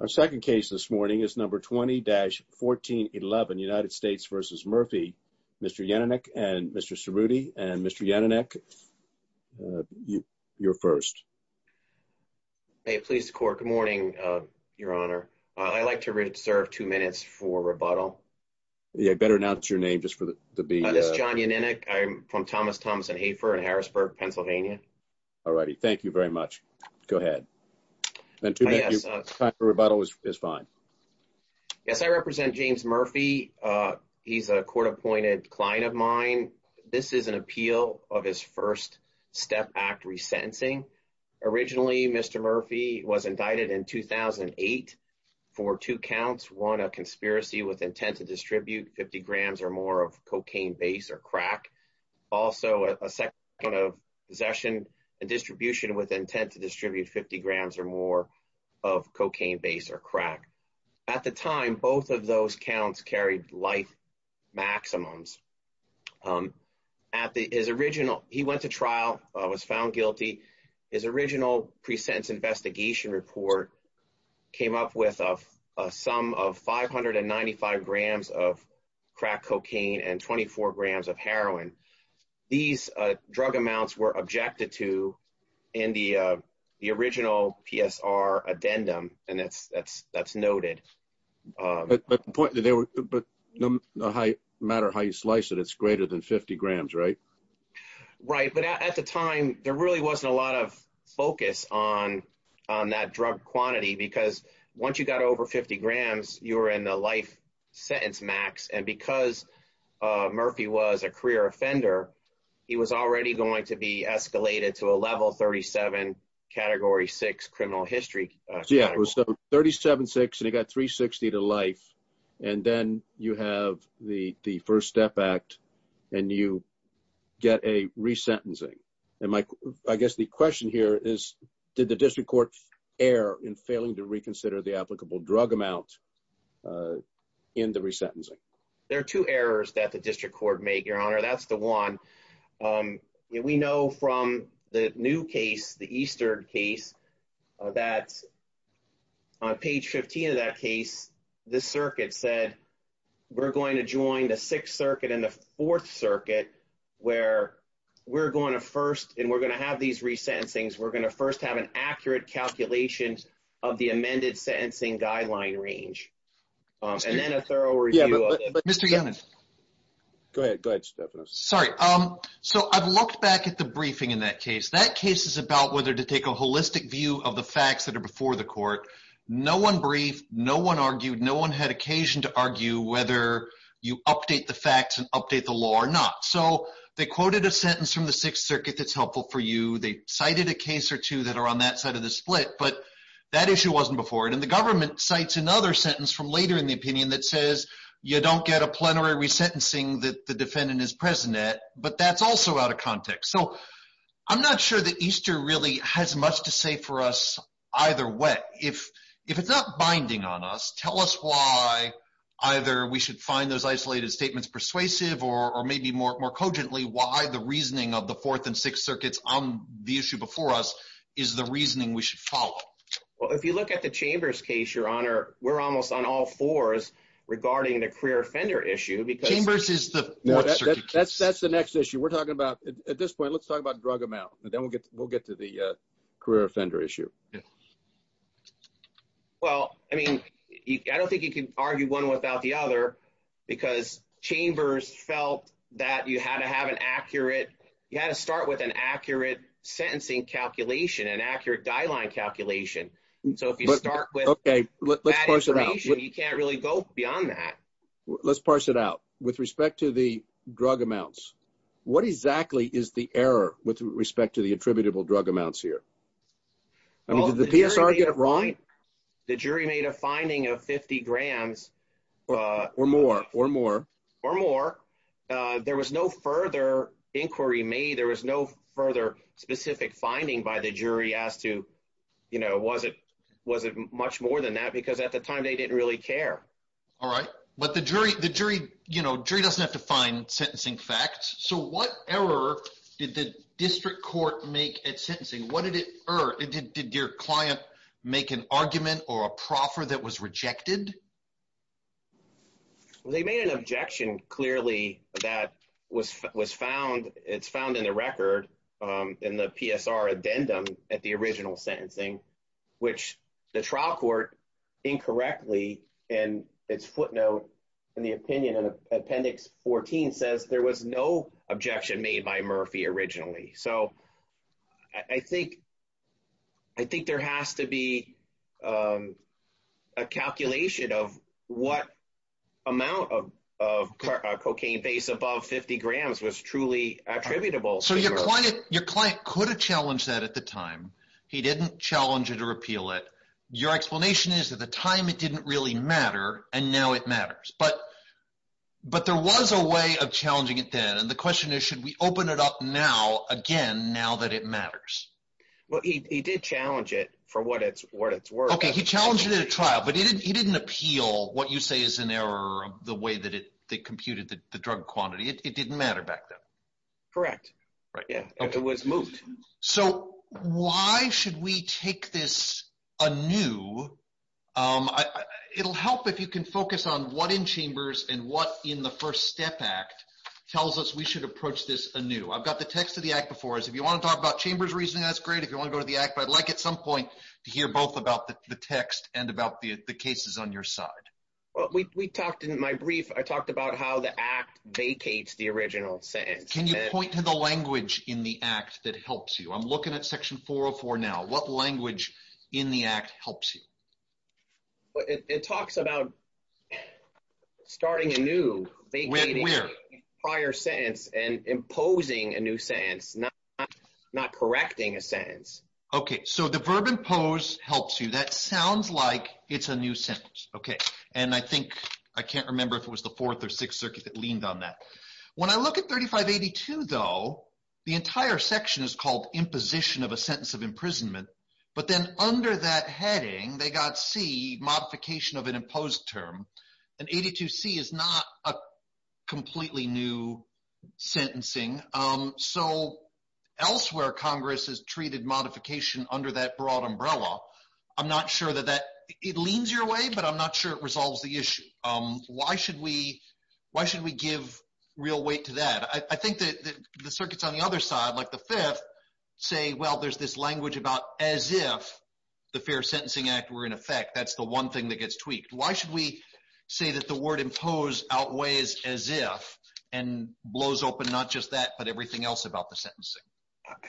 Our second case this morning is number 20-1411 United States v. Murphy. Mr. Yannonek and Mr. Cerruti and Mr. Yannonek, you're first. May it please the court. Good morning, your honor. I'd like to reserve two minutes for rebuttal. Yeah, better announce your name just for the... I'm John Yannonek. I'm from Thomas Thompson Hafer in Harrisburg, Pennsylvania. Alrighty, thank you very much. Go ahead. Then two minutes for rebuttal is fine. Yes, I represent James Murphy. He's a court-appointed client of mine. This is an appeal of his first step act resentencing. Originally, Mr. Murphy was indicted in 2008 for two counts. One, a conspiracy with intent to distribute 50 grams or more of cocaine base or crack. Also, a second count of possession and distribution with intent to distribute 50 grams or more of cocaine base or crack. At the time, both of those counts carried life maximums. He went to trial, was found guilty. His original pre-sentence investigation report came up with a sum of 595 grams of crack cocaine and 24 grams of heroin. These drug amounts were objected to in the original PSR addendum, and that's noted. But no matter how you slice it, it's greater than 50 grams, right? Right, but at the time, there really wasn't a lot of focus on that drug quantity because once you got over 50 grams, you were in the life sentence max, and because Murphy was a career offender, he was already going to be escalated to a level 37, category six criminal history. Yeah, it was 37.6, and he got 360 to life, and then you have the first step act, and you get a resentencing. I guess the question here is, did the district court err in failing to reconsider the applicable drug amount in the resentencing? There are two errors that the district court made, your honor. That's the one. We know from the new case, the Eastern case, that on page 15 of that case, the circuit said, we're going to join the sixth circuit and the fourth circuit where we're going to first, and we're going to have these resentencings, we're going to first have an accurate calculation of the amended sentencing guideline range, and then a thorough review of it. Mr. Yonan. Go ahead. Go ahead, Stephanos. Sorry. So I've looked back at the briefing in that case. That case is about whether to take a holistic view of the facts that are before the court. No one briefed, no one argued, no one had occasion to argue whether you update the facts and update the law or not. So they quoted a sentence from the sixth circuit that's helpful for you. They cited a case or two that are on that side of the split, but that issue wasn't before it. And the government cites another sentence from later in the opinion that says, you don't get a plenary resentencing that the defendant is present at, but that's also out of context. So I'm not sure that Easter really has much to say for us either way. If it's not binding on us, tell us why either we should find those isolated statements persuasive, or maybe more cogently why the reasoning of the fourth and sixth circuits on the issue before us is the reasoning we should follow. Well, if you look at the Chambers case, your honor, we're almost on all fours regarding the career offender issue because... Chambers is the fourth circuit case. That's the next issue we're talking about. At this point, let's talk about drug amount, and then we'll get to the career offender issue. Yeah. Well, I mean, I don't think you can argue one without the other because Chambers felt that you had to have an accurate, you had to start with an accurate sentencing calculation, an accurate guideline calculation. So if you start with... Okay, let's parse it out. You can't really go beyond that. Let's parse it out. With respect to the drug amounts, what exactly is the error with respect to the attributable drug amounts here? I mean, did the PSR get it wrong? The jury made a finding of 50 grams. Or more, or more. Or more. There was no further inquiry made. There was no further specific finding by the jury as to, you know, was it much more than that because at the time they didn't really care. All right. But the jury, you know, jury doesn't have to find sentencing facts. So what error did the district court make at sentencing? What did it, or did your client make an argument or a proffer that was rejected? Well, they made an objection clearly that was found, it's found in the record, in the PSR addendum at the original sentencing, which the trial court incorrectly in its footnote in the opinion in appendix 14 says there was no objection made by Murphy originally. So I think, I think there has to be a calculation of what amount of cocaine base above 50 grams was truly attributable. So your client could have challenged that at the time. He didn't challenge it or repeal it. Your explanation is at the time it didn't really matter and now it matters, but, but there was a way of challenging it then. And the question is, should we open it up now, again, now that it matters? Well, he did challenge it for what it's worth. Okay. He challenged it at a trial, but he didn't, he didn't appeal what you say is an error of the way that it computed the drug quantity. It didn't matter back then. Correct. Yeah. It was moved. So why should we take this anew? It'll help if you can focus on what in chambers and what in the first step act tells us we should approach this anew. I've got the text of the act before us. If you want to talk about chambers reasoning, that's great. If you want to go to the act, but I'd like at some point to hear both about the text and about the cases on your side. Well, we talked in my brief, I talked about how the act vacates the original sentence. Can you point to the language in the act that helps you? I'm looking at section 404 now, what language in the act helps you? It talks about starting anew, vacating prior sentence and imposing a new sentence, not correcting a sentence. Okay. So the verb impose helps you. That sounds like it's a new sentence. Okay. And I think I can't remember if it was the fourth or sixth circuit that leaned on that. When I look at 3582 though, the entire section is called imposition of a sentence of imprisonment. But then under that heading, they got C, modification of an imposed term. And 82C is not a completely new sentencing. So elsewhere, Congress has treated modification under that broad umbrella. I'm not sure that it leans your way, but I'm not sure it resolves the issue. Why should we give real weight to that? I think that the circuits on the other side, like the fifth say, well, there's this language about as if the fair sentencing act were in effect. That's the one thing that gets tweaked. Why should we say that the word impose outweighs as if, and blows open, not just that, but everything else about the sentencing?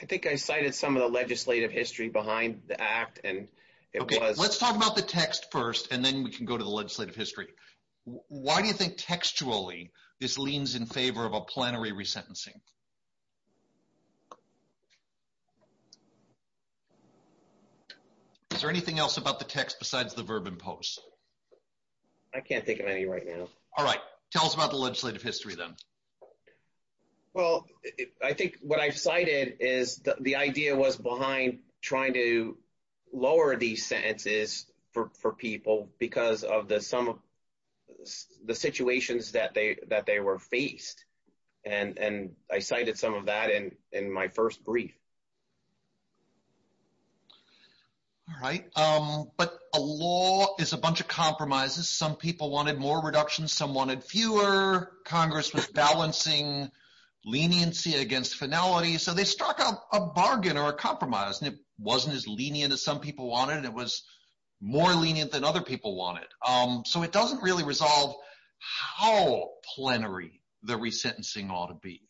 I think I cited some of the legislative history behind the act. Let's talk about the text first, and then we can go to the legislative history. Why do you think textually this leans in favor of a plenary resentencing? Is there anything else about the text besides the verb impose? I can't think of any right now. All right. Tell us about the legislative history then. Well, I think what I've cited is the idea was behind trying to lower these sentences for people because of the situations that they were faced. I cited some of that in my first brief. All right. But a law is a bunch of compromises. Some people wanted more reductions, some wanted fewer. Congress was balancing leniency against finality. So they struck out a bargain or a compromise, and it wasn't as lenient as some people wanted. It was more lenient than other people wanted. So it doesn't really resolve how plenary the resentencing ought to be.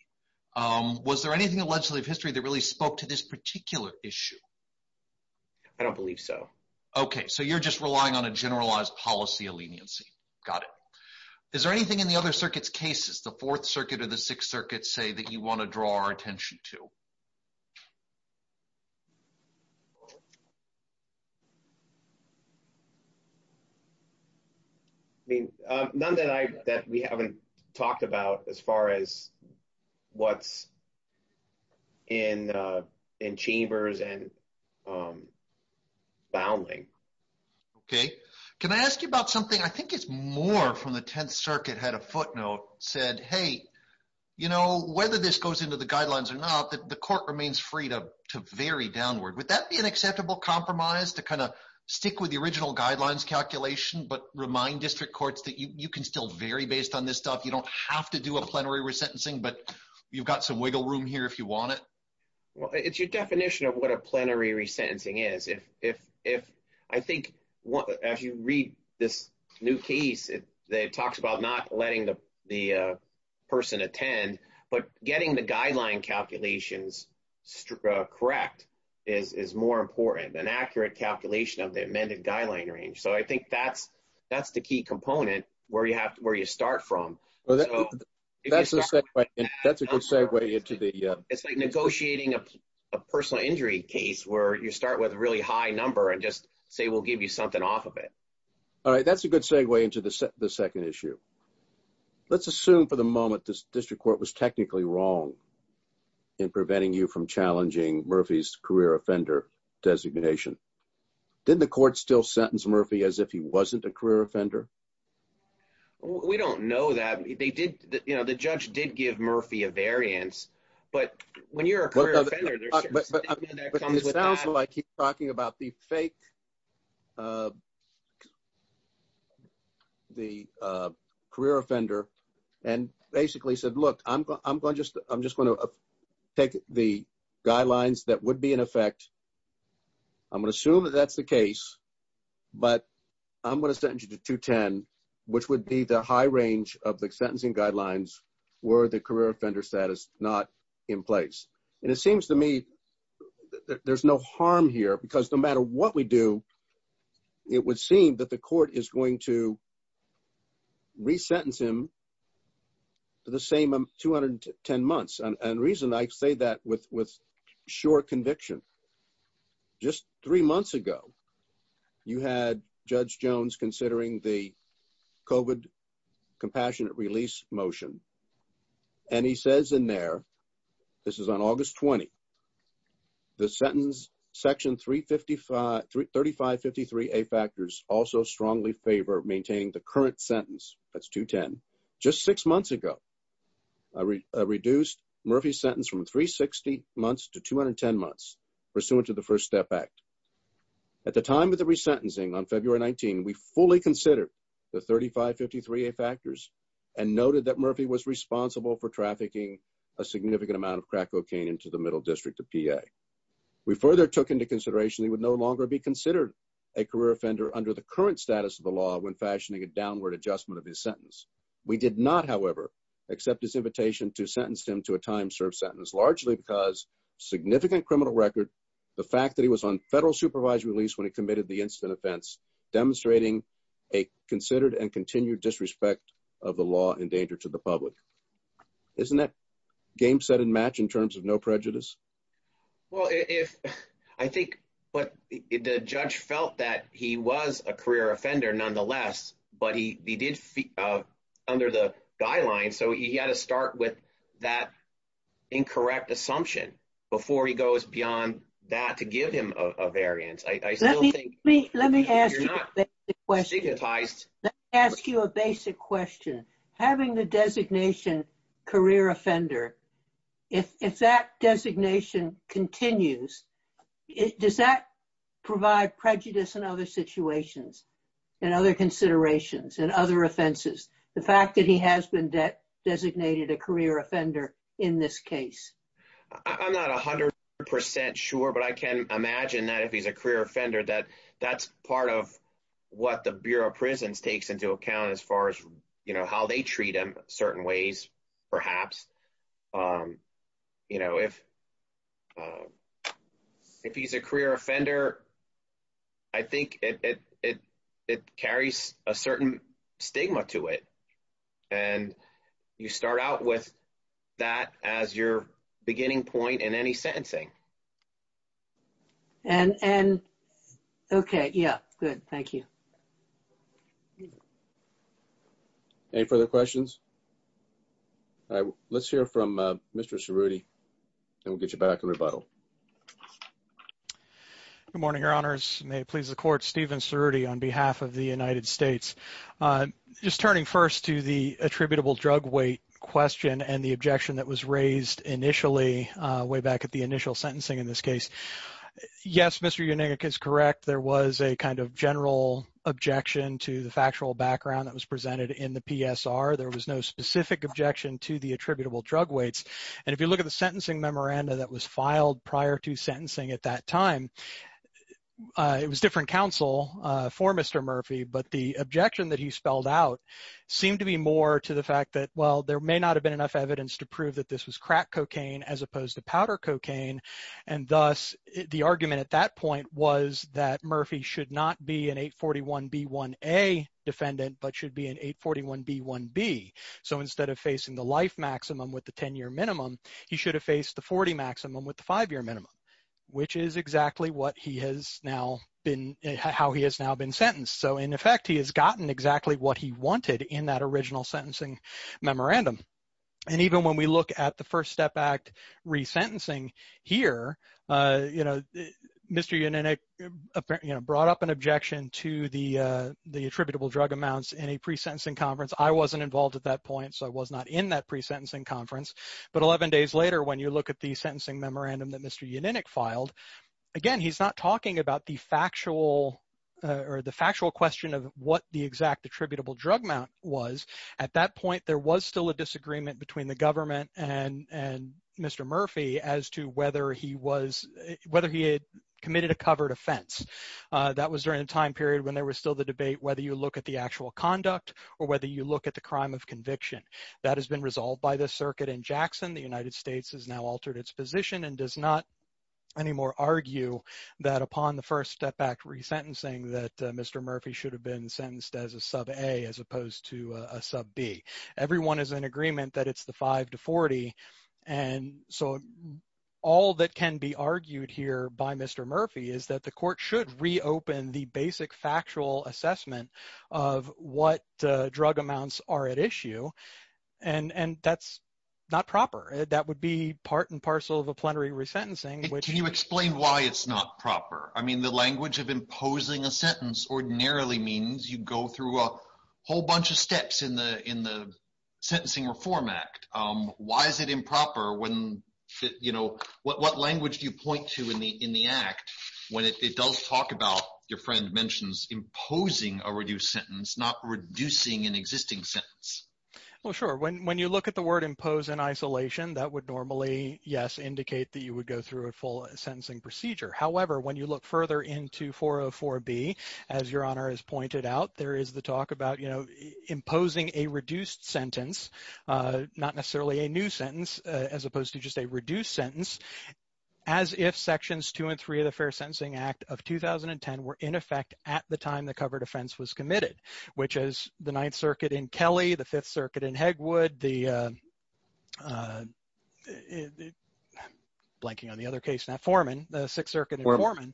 Was there anything in legislative history that really spoke to this particular issue? I don't believe so. Okay. So you're just relying on a generalized policy of leniency. Got it. Is there anything in the other circuits' cases, the Fourth Circuit or the Sixth Circuit, say that you want to draw our attention to? None that we haven't talked about as far as what's in chambers and bounding. Okay. Can I ask you about something? I think it's more from the Tenth Circuit had a footnote said, hey, you know, whether this goes into the guidelines or not, the court remains free to vary downward. Would that be an acceptable compromise to kind of stick with the original guidelines calculation but remind district courts that you can still vary based on this stuff? You don't have to do a plenary resentencing, but you've got some wiggle room here if you want it. Well, it's your definition of what a plenary resentencing is. I think as you read this new case, it talks about not letting the person attend, but getting the guideline calculations correct is more important than accurate calculation of the amended guideline range. So I think that's the key component where you start from. It's like negotiating a personal injury case where you start with a really high number and just say we'll give you something off of it. All right, that's a good segue into the second issue. Let's assume for the moment this district court was technically wrong in preventing you from challenging Murphy's career offender designation. Did the court still sentence Murphy as if he wasn't a career offender? We don't know that. They did, you know, the judge did give Murphy a variance, but when you're a career offender... It sounds like he's talking about the fake, the career offender and basically said, look, I'm going to just, I'm just going to take the guidelines that would be in effect. I'm going to assume that that's the case, but I'm going to send you to 210, which would be the high range of the sentencing guidelines were the career offender status not in place. And it seems to me that there's no harm here because no matter what we do, it would seem that the court is going to resentence him for the same 210 months. And the reason I say that with sure conviction, just three months ago, you had judge Jones considering the COVID compassionate release motion. And he says in there, this is on August 20, the sentence section 3553A factors also strongly favor maintaining the current sentence. That's 210. Just six months ago, reduced Murphy's sentence from 360 months to 210 months pursuant to the first step act. At the time of the resentencing on February 19, we fully considered the 3553A factors and noted that Murphy was responsible for trafficking a significant amount of crack cocaine into the middle district of PA. We further took into consideration, he would no longer be considered a career offender under the current status of the law when fashioning a downward adjustment of his sentence. We did not, however, accept his invitation to sentence him to a time served sentence largely because significant criminal record, the fact that he was on federal supervised release when he committed the incident offense demonstrating a considered and continued disrespect of the law in danger to the public. Isn't that game set in match in terms of no felt that he was a career offender nonetheless, but he did under the guidelines. So, he had to start with that incorrect assumption before he goes beyond that to give him a variance. I still think- Let me ask you a basic question. Having the designation career offender, if that designation continues, does that provide prejudice in other situations and other considerations and other offenses? The fact that he has been designated a career offender in this case? I'm not 100% sure, but I can imagine that if he's a career offender, that's part of what the Bureau of Prisons takes into account as far as how they treat him certain ways, perhaps. If he's a career offender, I think it carries a certain stigma to it. You start out with that as your beginning point in any sentencing. Okay. Yeah. Good. Thank you. Thank you. Any further questions? All right. Let's hear from Mr. Cerruti, and we'll get you back in rebuttal. Good morning, your honors. May it please the court, Stephen Cerruti on behalf of the United States. Just turning first to the attributable drug weight question and the objection that was raised initially, way back at the initial sentencing in this case. Yes, Mr. Yannick is correct. There was a kind of general objection to the factual background that was presented in the PSR. There was no specific objection to the attributable drug weights. And if you look at the sentencing memoranda that was filed prior to sentencing at that time, it was different counsel for Mr. Murphy, but the objection that he spelled out seemed to be more to the fact that, well, there may not have been enough evidence to prove that this was crack cocaine as opposed to powder cocaine. And thus, the argument at that point was that Murphy should not be an 841B1A defendant, but should be an 841B1B. So instead of facing the life maximum with the 10-year minimum, he should have faced the 40 maximum with the five-year minimum, which is exactly what he has now been, how he has now been sentenced. So in effect, he has gotten exactly what he wanted in that original sentencing memorandum. And even when we look at the First Step Act resentencing here, Mr. Yannick brought up an objection to the attributable drug amounts in a pre-sentencing conference. I wasn't involved at that point, so I was not in that pre-sentencing conference. But 11 days later, when you look at the sentencing memorandum that Mr. Yannick filed, again, he's not talking about the factual or the factual question of what the exact attributable drug amount was. At that point, there was still a disagreement between the government and Mr. Murphy as to whether he had committed a covered offense. That was during a time period when there was still the debate whether you look at the actual conduct or whether you look at the crime of conviction. That has been resolved by this circuit in Jackson. The United States has now altered its position and does not anymore argue that upon the First Step Act resentencing that Mr. Murphy should have been sentenced as a sub-A as opposed to a sub-B. Everyone is in agreement that it's the 5 to 40. And so all that can be argued here by Mr. Murphy is that the court should reopen the basic factual assessment of what drug amounts are at issue. And that's not proper. That would be part and parcel of a plenary resentencing. Can you explain why it's not proper? I mean, the language of imposing a sentence ordinarily means you go through a whole bunch of steps in the Sentencing Reform Act. Why is it improper when, you know, what language do you point to in the Act when it does talk about, your friend mentions, imposing a reduced sentence, not reducing an existing sentence? Well, sure. When you look at the word impose in isolation, that would normally, yes, indicate that you would go through a full sentencing procedure. However, when you look further into 404B, as Your Honor has pointed out, there is the talk about, you know, imposing a reduced sentence, not necessarily a new sentence, as opposed to just a reduced sentence, as if Sections 2 and 3 of the Fair Sentencing Act of 2010 were in effect at the time the covered offense was committed, which is the Ninth Circuit in Kelly, the Fifth Circuit in Hegwood, I'm blanking on the other case now, Foreman, the Sixth Circuit in Foreman,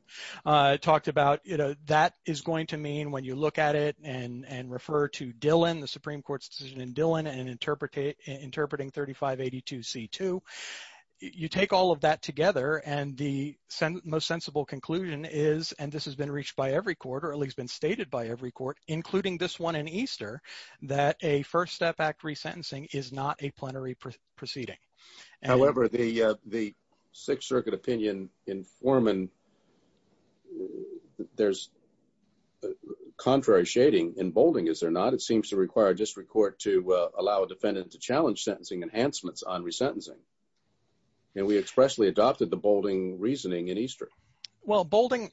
talked about, you know, that is going to mean when you look at it and refer to Dillon, the Supreme Court's decision in Dillon, and interpreting 3582C2, you take all of that together, and the most sensible conclusion is, and this has been reached by every court, or at least been stated by every court, including this one in Easter, that a First Step Act resentencing is not a plenary proceeding. However, the Sixth Circuit opinion in Foreman, there's contrary shading in Boulding, is there not? It seems to require a district court to allow a defendant to challenge sentencing enhancements on resentencing, and we expressly adopted the Boulding reasoning in Easter. Well, Boulding,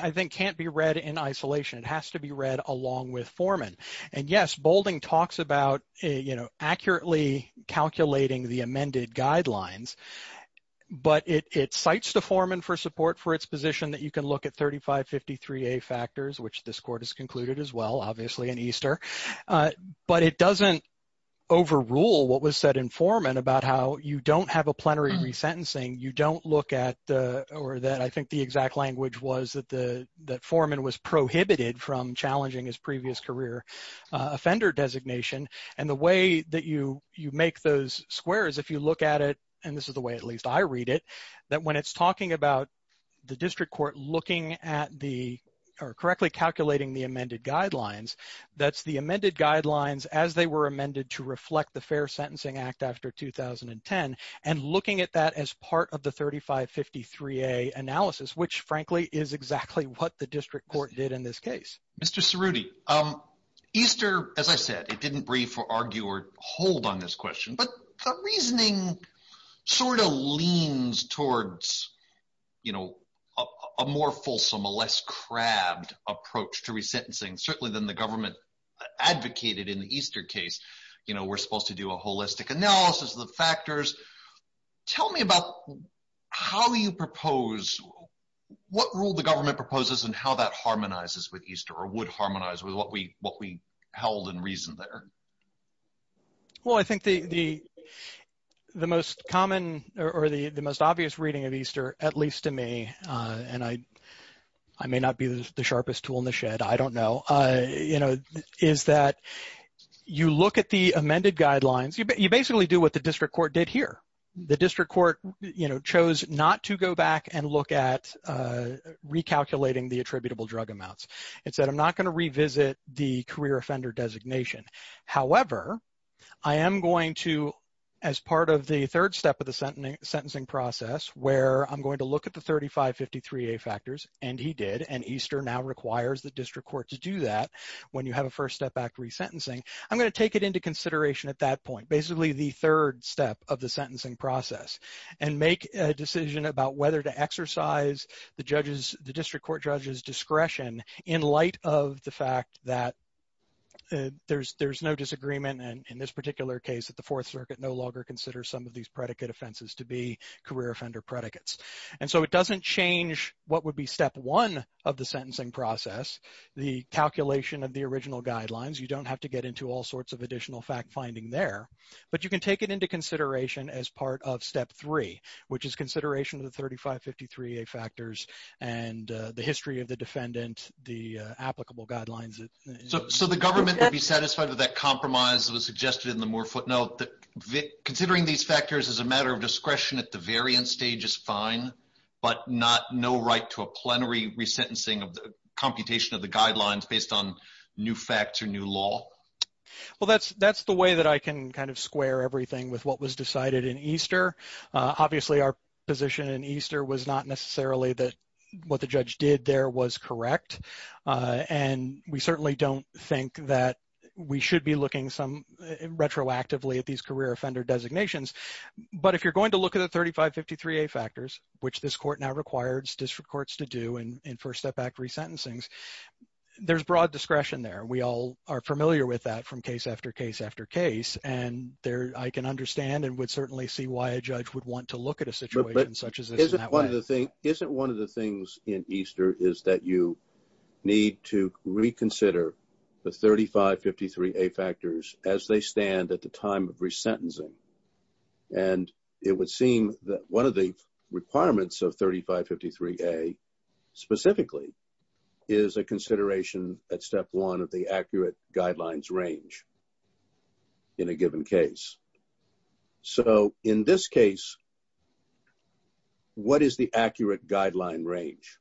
I think, can't be read in isolation. It has to be read along with Foreman. And yes, Boulding talks about, you know, accurately calculating the amended guidelines, but it cites the Foreman for support for its position that you can look at 3553A factors, which this court has concluded as well, obviously, in Easter, but it doesn't overrule what was said in Foreman about how you don't have a plenary from challenging his previous career offender designation. And the way that you make those squares, if you look at it, and this is the way at least I read it, that when it's talking about the district court looking at the, or correctly calculating the amended guidelines, that's the amended guidelines as they were amended to reflect the Fair Sentencing Act after 2010, and looking at that as part of the 3553A analysis, which, frankly, is exactly what the district court did in this case. Mr. Cerruti, Easter, as I said, it didn't breathe for argue or hold on this question, but the reasoning sort of leans towards, you know, a more fulsome, a less crabbed approach to resentencing, certainly than the government advocated in the Easter case. You know, we're supposed to do a holistic analysis of the factors. Tell me about how you propose, what rule the government proposes and how that harmonizes with Easter or would harmonize with what we held in reason there? Well, I think the most common or the most obvious reading of Easter, at least to me, and I may not be the sharpest tool in the shed, I don't know, you know, the amended guidelines, you basically do what the district court did here. The district court, you know, chose not to go back and look at recalculating the attributable drug amounts. It said, I'm not going to revisit the career offender designation. However, I am going to, as part of the third step of the sentencing process, where I'm going to look at the 3553A factors, and he did, and Easter now requires the district court to do that when you have a first step act resentencing, I'm going to take it into consideration at that point, basically the third step of the sentencing process and make a decision about whether to exercise the judges, the district court judges discretion in light of the fact that there's no disagreement. And in this particular case, that the fourth circuit no longer consider some of these predicate offenses to be career offender predicates. And so it doesn't change what would be step one of the sentencing process, the calculation of the original guidelines. You don't have to get into all sorts of additional fact finding there, but you can take it into consideration as part of step three, which is consideration of the 3553A factors and the history of the defendant, the applicable guidelines. So the government would be satisfied with that compromise that was suggested in the Moore footnote that considering these factors as a matter of discretion at the variant stage is fine, but not no right to a plenary resentencing of the computation of the guidelines based on new facts or new law. Well, that's that's the way that I can kind of square everything with what was decided in Easter. Obviously, our position in Easter was not necessarily that what the judge did there was correct. And we certainly don't think that we should be looking some retroactively at these career offender designations. But if you're going to look at 3553A factors, which this court now requires district courts to do in First Step Act resentencings, there's broad discretion there. We all are familiar with that from case after case after case. And there I can understand and would certainly see why a judge would want to look at a situation such as this. Isn't one of the things in Easter is that you need to reconsider the 3553A factors as they stand at the time of resentencing. And it would seem that one of the requirements of 3553A specifically is a consideration at step one of the accurate guidelines range in a given case. So in this case, what is the accurate guideline range?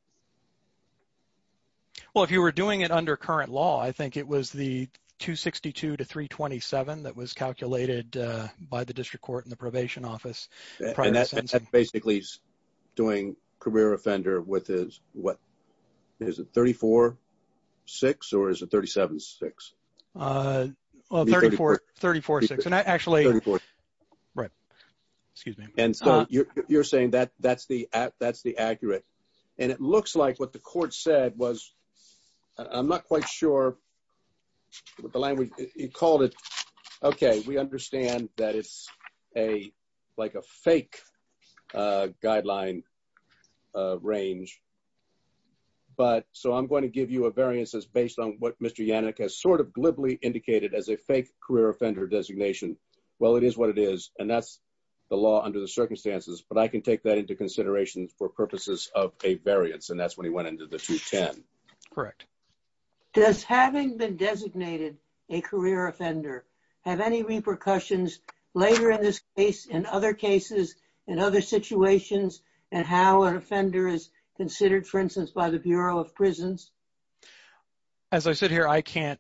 Well, if you were doing it under current law, I think it was the 262 to 327 that was calculated by the district court in the probation office. And that basically is doing career offender with his what is it 34-6 or is it 37-6? Well, 34-6. And actually, right. Excuse me. And so you're saying that's the accurate. And it looks like what the court said was, I'm not quite sure what the language you called it. Okay. We understand that it's like a fake guideline range. But so I'm going to give you a variances based on what Mr. Yannick has sort of glibly indicated as a fake career offender designation. Well, it is what it is. And that's the law under the circumstances. But I can take that into consideration for purposes of a variance. And that's when he went into the 210. Correct. Does having been designated a career offender have any repercussions later in this case, in other cases, in other situations, and how an offender is considered, for instance, by the Bureau of Prisons? As I sit here, I can't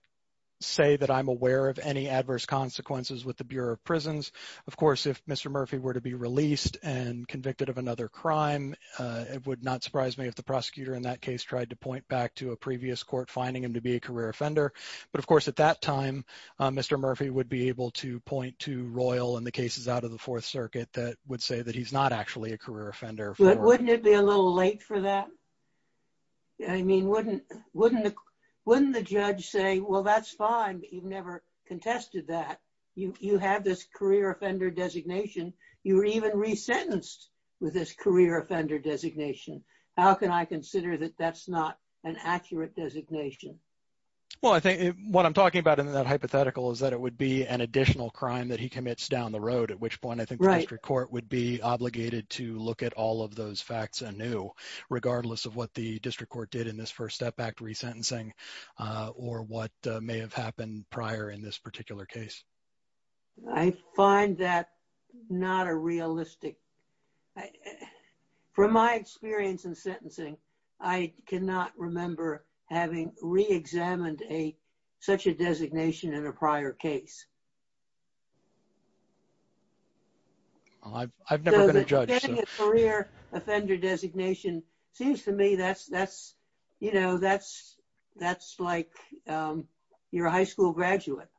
say that I'm aware of any adverse consequences with the Bureau of Prisons. Of course, if Mr. Murphy were to be released and convicted of another crime, it would not surprise me if the prosecutor in that case tried to point back to a previous court finding him to be a career offender. But of course, at that time, Mr. Murphy would be able to point to Royal and the cases out of the Fourth Circuit that would say that he's not actually a career offender. Wouldn't it be a little late for that? I mean, wouldn't the judge say, well, that's fine, you've never contested that. You have this career offender designation. You were even resentenced with this career offender designation. How can I consider that that's not an accurate designation? Well, I think what I'm talking about in that hypothetical is that it would be an additional crime that he commits down the road, at which point I think the district court would be obligated to look at all of those facts anew, regardless of what the district court did in this first step back to resentencing or what may have happened prior in this particular case. I find that not a realistic... From my experience in sentencing, I cannot remember having reexamined such a designation in a prior case. I've never been a judge. Getting a career offender designation seems to me that's like you're a high school graduate.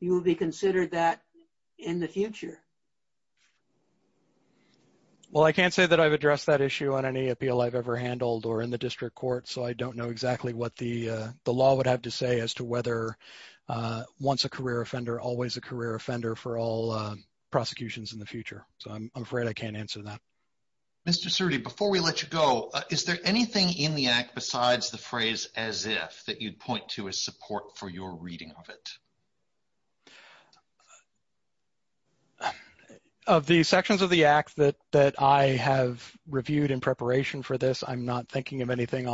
You will be considered that in the future. Well, I can't say that I've addressed that issue on any appeal I've ever handled or in the district court, so I don't know exactly what the law would have to say as to whether once a career offender, always a career offender for all prosecutions in the future, so I'm afraid I can't answer that. Mr. Surdy, before we let you go, is there anything in the act besides the phrase as if that you'd point to as support for your reading of it? Of the sections of the act that I have reviewed in preparation for this, I'm not thinking of involving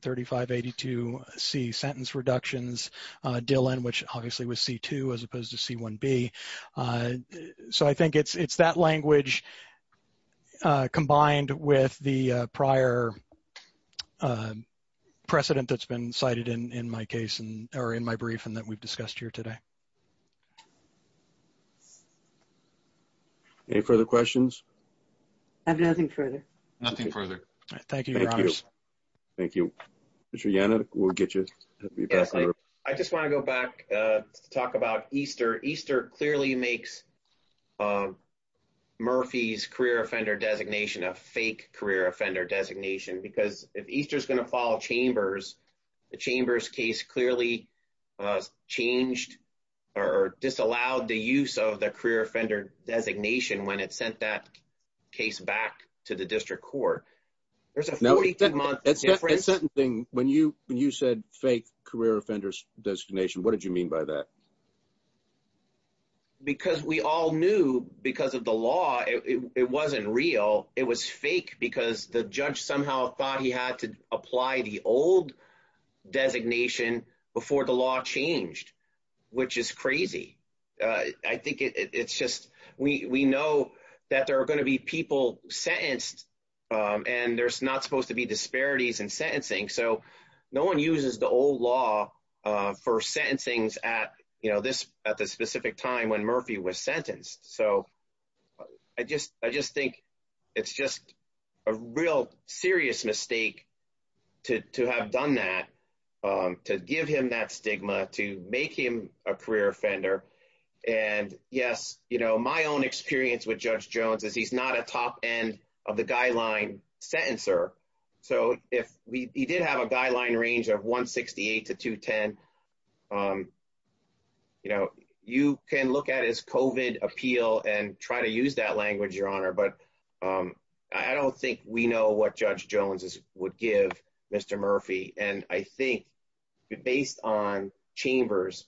3582C sentence reductions, DILN, which obviously was C2 as opposed to C1B, so I think it's that language combined with the prior precedent that's been cited in my brief and that we've discussed here today. Any further questions? Nothing further. Nothing further. Thank you. Thank you. I just want to go back to talk about Easter. Easter clearly makes Murphy's career offender designation a fake career offender designation because if Easter is going to follow Chambers, the Chambers case clearly changed or disallowed the use of the career offender designation when it sent that case back to the district court. There's a 42-month difference. That sentencing, when you said fake career offenders designation, what did you mean by that? Because we all knew because of the law, it wasn't real. It was fake because the judge somehow thought he had to apply the old designation before the law changed, which is crazy. I think it's just we know that there are going to be people sentenced and there's not supposed to be disparities in sentencing, so no one uses the old law for sentencing at the specific time when Murphy was sentenced, so I just think it's just a real serious mistake to have done that, to give him that stigma, to make him a career offender. Yes, my own experience with Judge Jones is he's not a top end of the guideline sentencer, so if he did have a guideline range of 168 to 210, you can look at his COVID appeal and try to use that language, Your Honor, but I don't think we know what Judge Jones would give Mr. Murphy, and I think based on Chambers,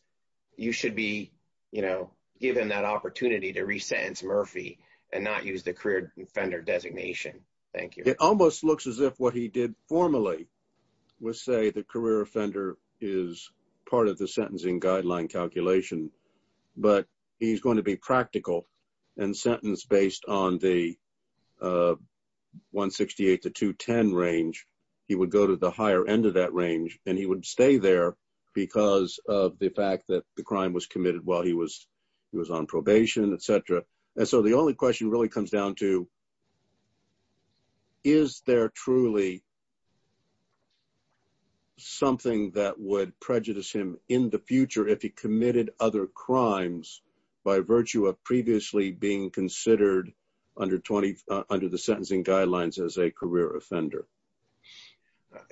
you should be given that opportunity to resentence Murphy and not use the career offender designation. Thank you. It almost looks as if what he did formally was say the career offender is part of the sentencing guideline calculation, but he's going to be practical and sentence based on the 168 to 210 range, he would go to the higher end of that range and he would stay there because of the fact that the crime was committed while he was on probation, etc., and so the only question really comes down to is there truly something that would prejudice him in the future if he committed other crimes by virtue of being previously considered under the sentencing guidelines as a career offender?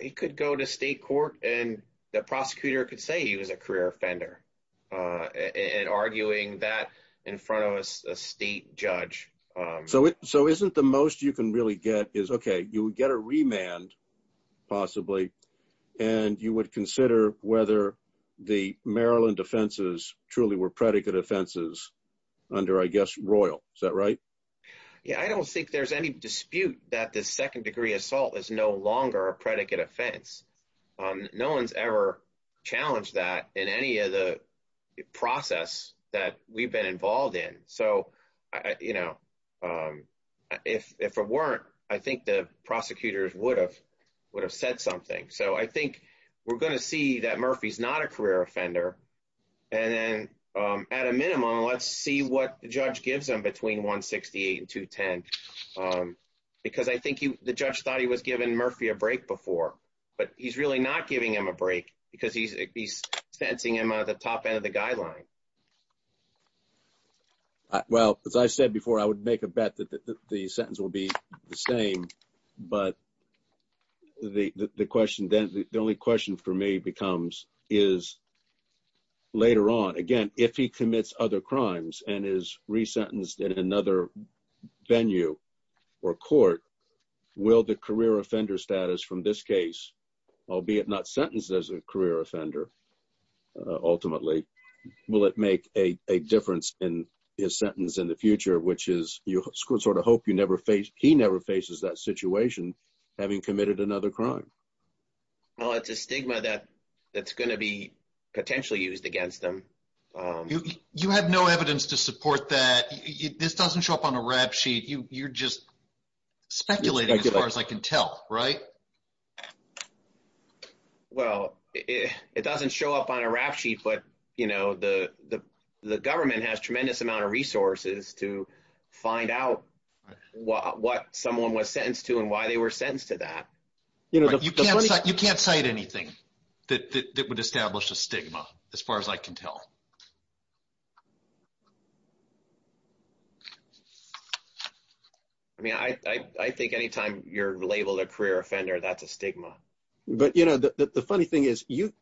He could go to state court and the prosecutor could say he was a career offender and arguing that in front of a state judge. So isn't the most you can really get is, okay, you would get a remand, possibly, and you would consider whether the Maryland offenses truly were predicate offenses under, I guess, Royal, is that right? Yeah, I don't think there's any dispute that the second degree assault is no longer a predicate offense. No one's ever challenged that in any of the process that we've been involved in. So, you know, if it weren't, I think the prosecutors would have said something. So I think we're going to see that Murphy's not a career offender and then, at a minimum, let's see what the judge gives him between 168 and 210 because I think the judge thought he was giving Murphy a break before, but he's really not giving him a break because he's sentencing him out of the top end of the guideline. Well, as I said before, I would make a bet that the sentence will be the same, but the question then, the only question for me becomes is later on, again, if he commits other crimes and is resentenced in another venue or court, will the career offender status from this case, albeit not sentenced as a career offender, ultimately, will it make a difference in his situation having committed another crime? Well, it's a stigma that's going to be potentially used against them. You have no evidence to support that. This doesn't show up on a rap sheet. You're just speculating as far as I can tell, right? Well, it doesn't show up on a rap sheet, but, you know, the government has a tremendous amount of resources to find out what someone was sentenced to and why they were sentenced to that. You can't cite anything that would establish a stigma as far as I can tell. I mean, I think anytime you're labeled a career offender, that's a stigma. But, you know, the funny thing is you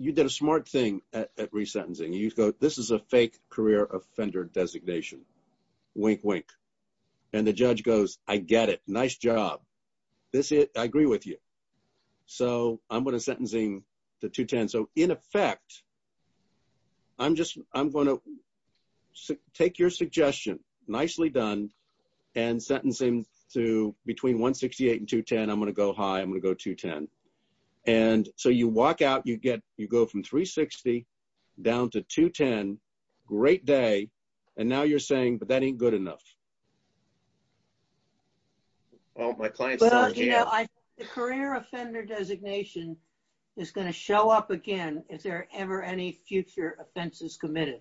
did a smart thing at resentencing. You go, this is a fake career offender designation. Wink, wink. And the judge goes, I get it. Nice job. This is it. I agree with you. So, I'm going to sentencing to 210. So, in effect, I'm going to take your suggestion, nicely done, and sentencing to between 168 and 210. I'm going to go high. I'm going to go 210. And so, you walk out, you go from 360 down to 210. Great day. And now you're saying, but that ain't good enough. Well, my client says, yeah. Well, you know, the career offender designation is going to show up again if there are ever any future offenses committed.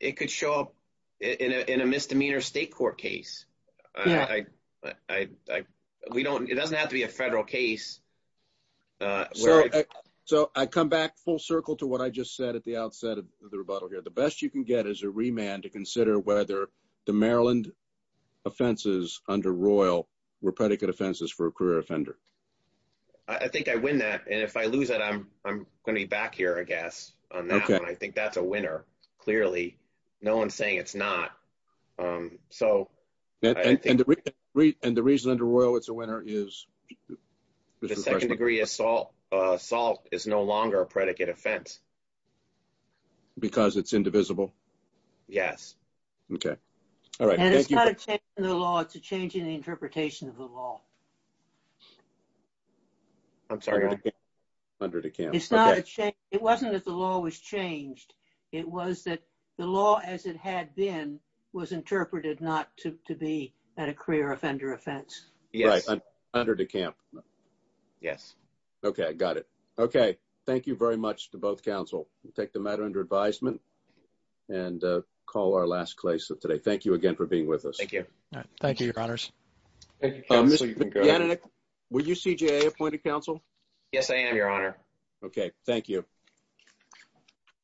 It could show up in a misdemeanor state court case. Yeah. I, we don't, it doesn't have to be a federal case. So, I come back full circle to what I just said at the outset of the rebuttal here. The best you can get is a remand to consider whether the Maryland offenses under Royal were predicate offenses for a career offender. I think I win that. And if I lose it, I'm going to be back here, I guess, on that one. I think that's a winner, clearly. No one's saying it's not. So. And the reason under Royal it's a winner is? The second degree assault is no longer a predicate offense. Because it's indivisible? Yes. Okay. All right. And it's not a change in the law, it's a change in the interpretation of the law. I'm sorry. It's not a change. It wasn't that the law was changed. It was that the law as it had been was interpreted not to be at a career offender offense. Yes. Under DeKalb. Yes. Okay. Got it. Okay. Thank you very much to both counsel. We'll take the matter under advisement and call our last case of today. Thank you again for being with us. Thank you. Thank you, your honors. Were you CJA appointed counsel? Yes, I am, your honor. Okay. Thank you.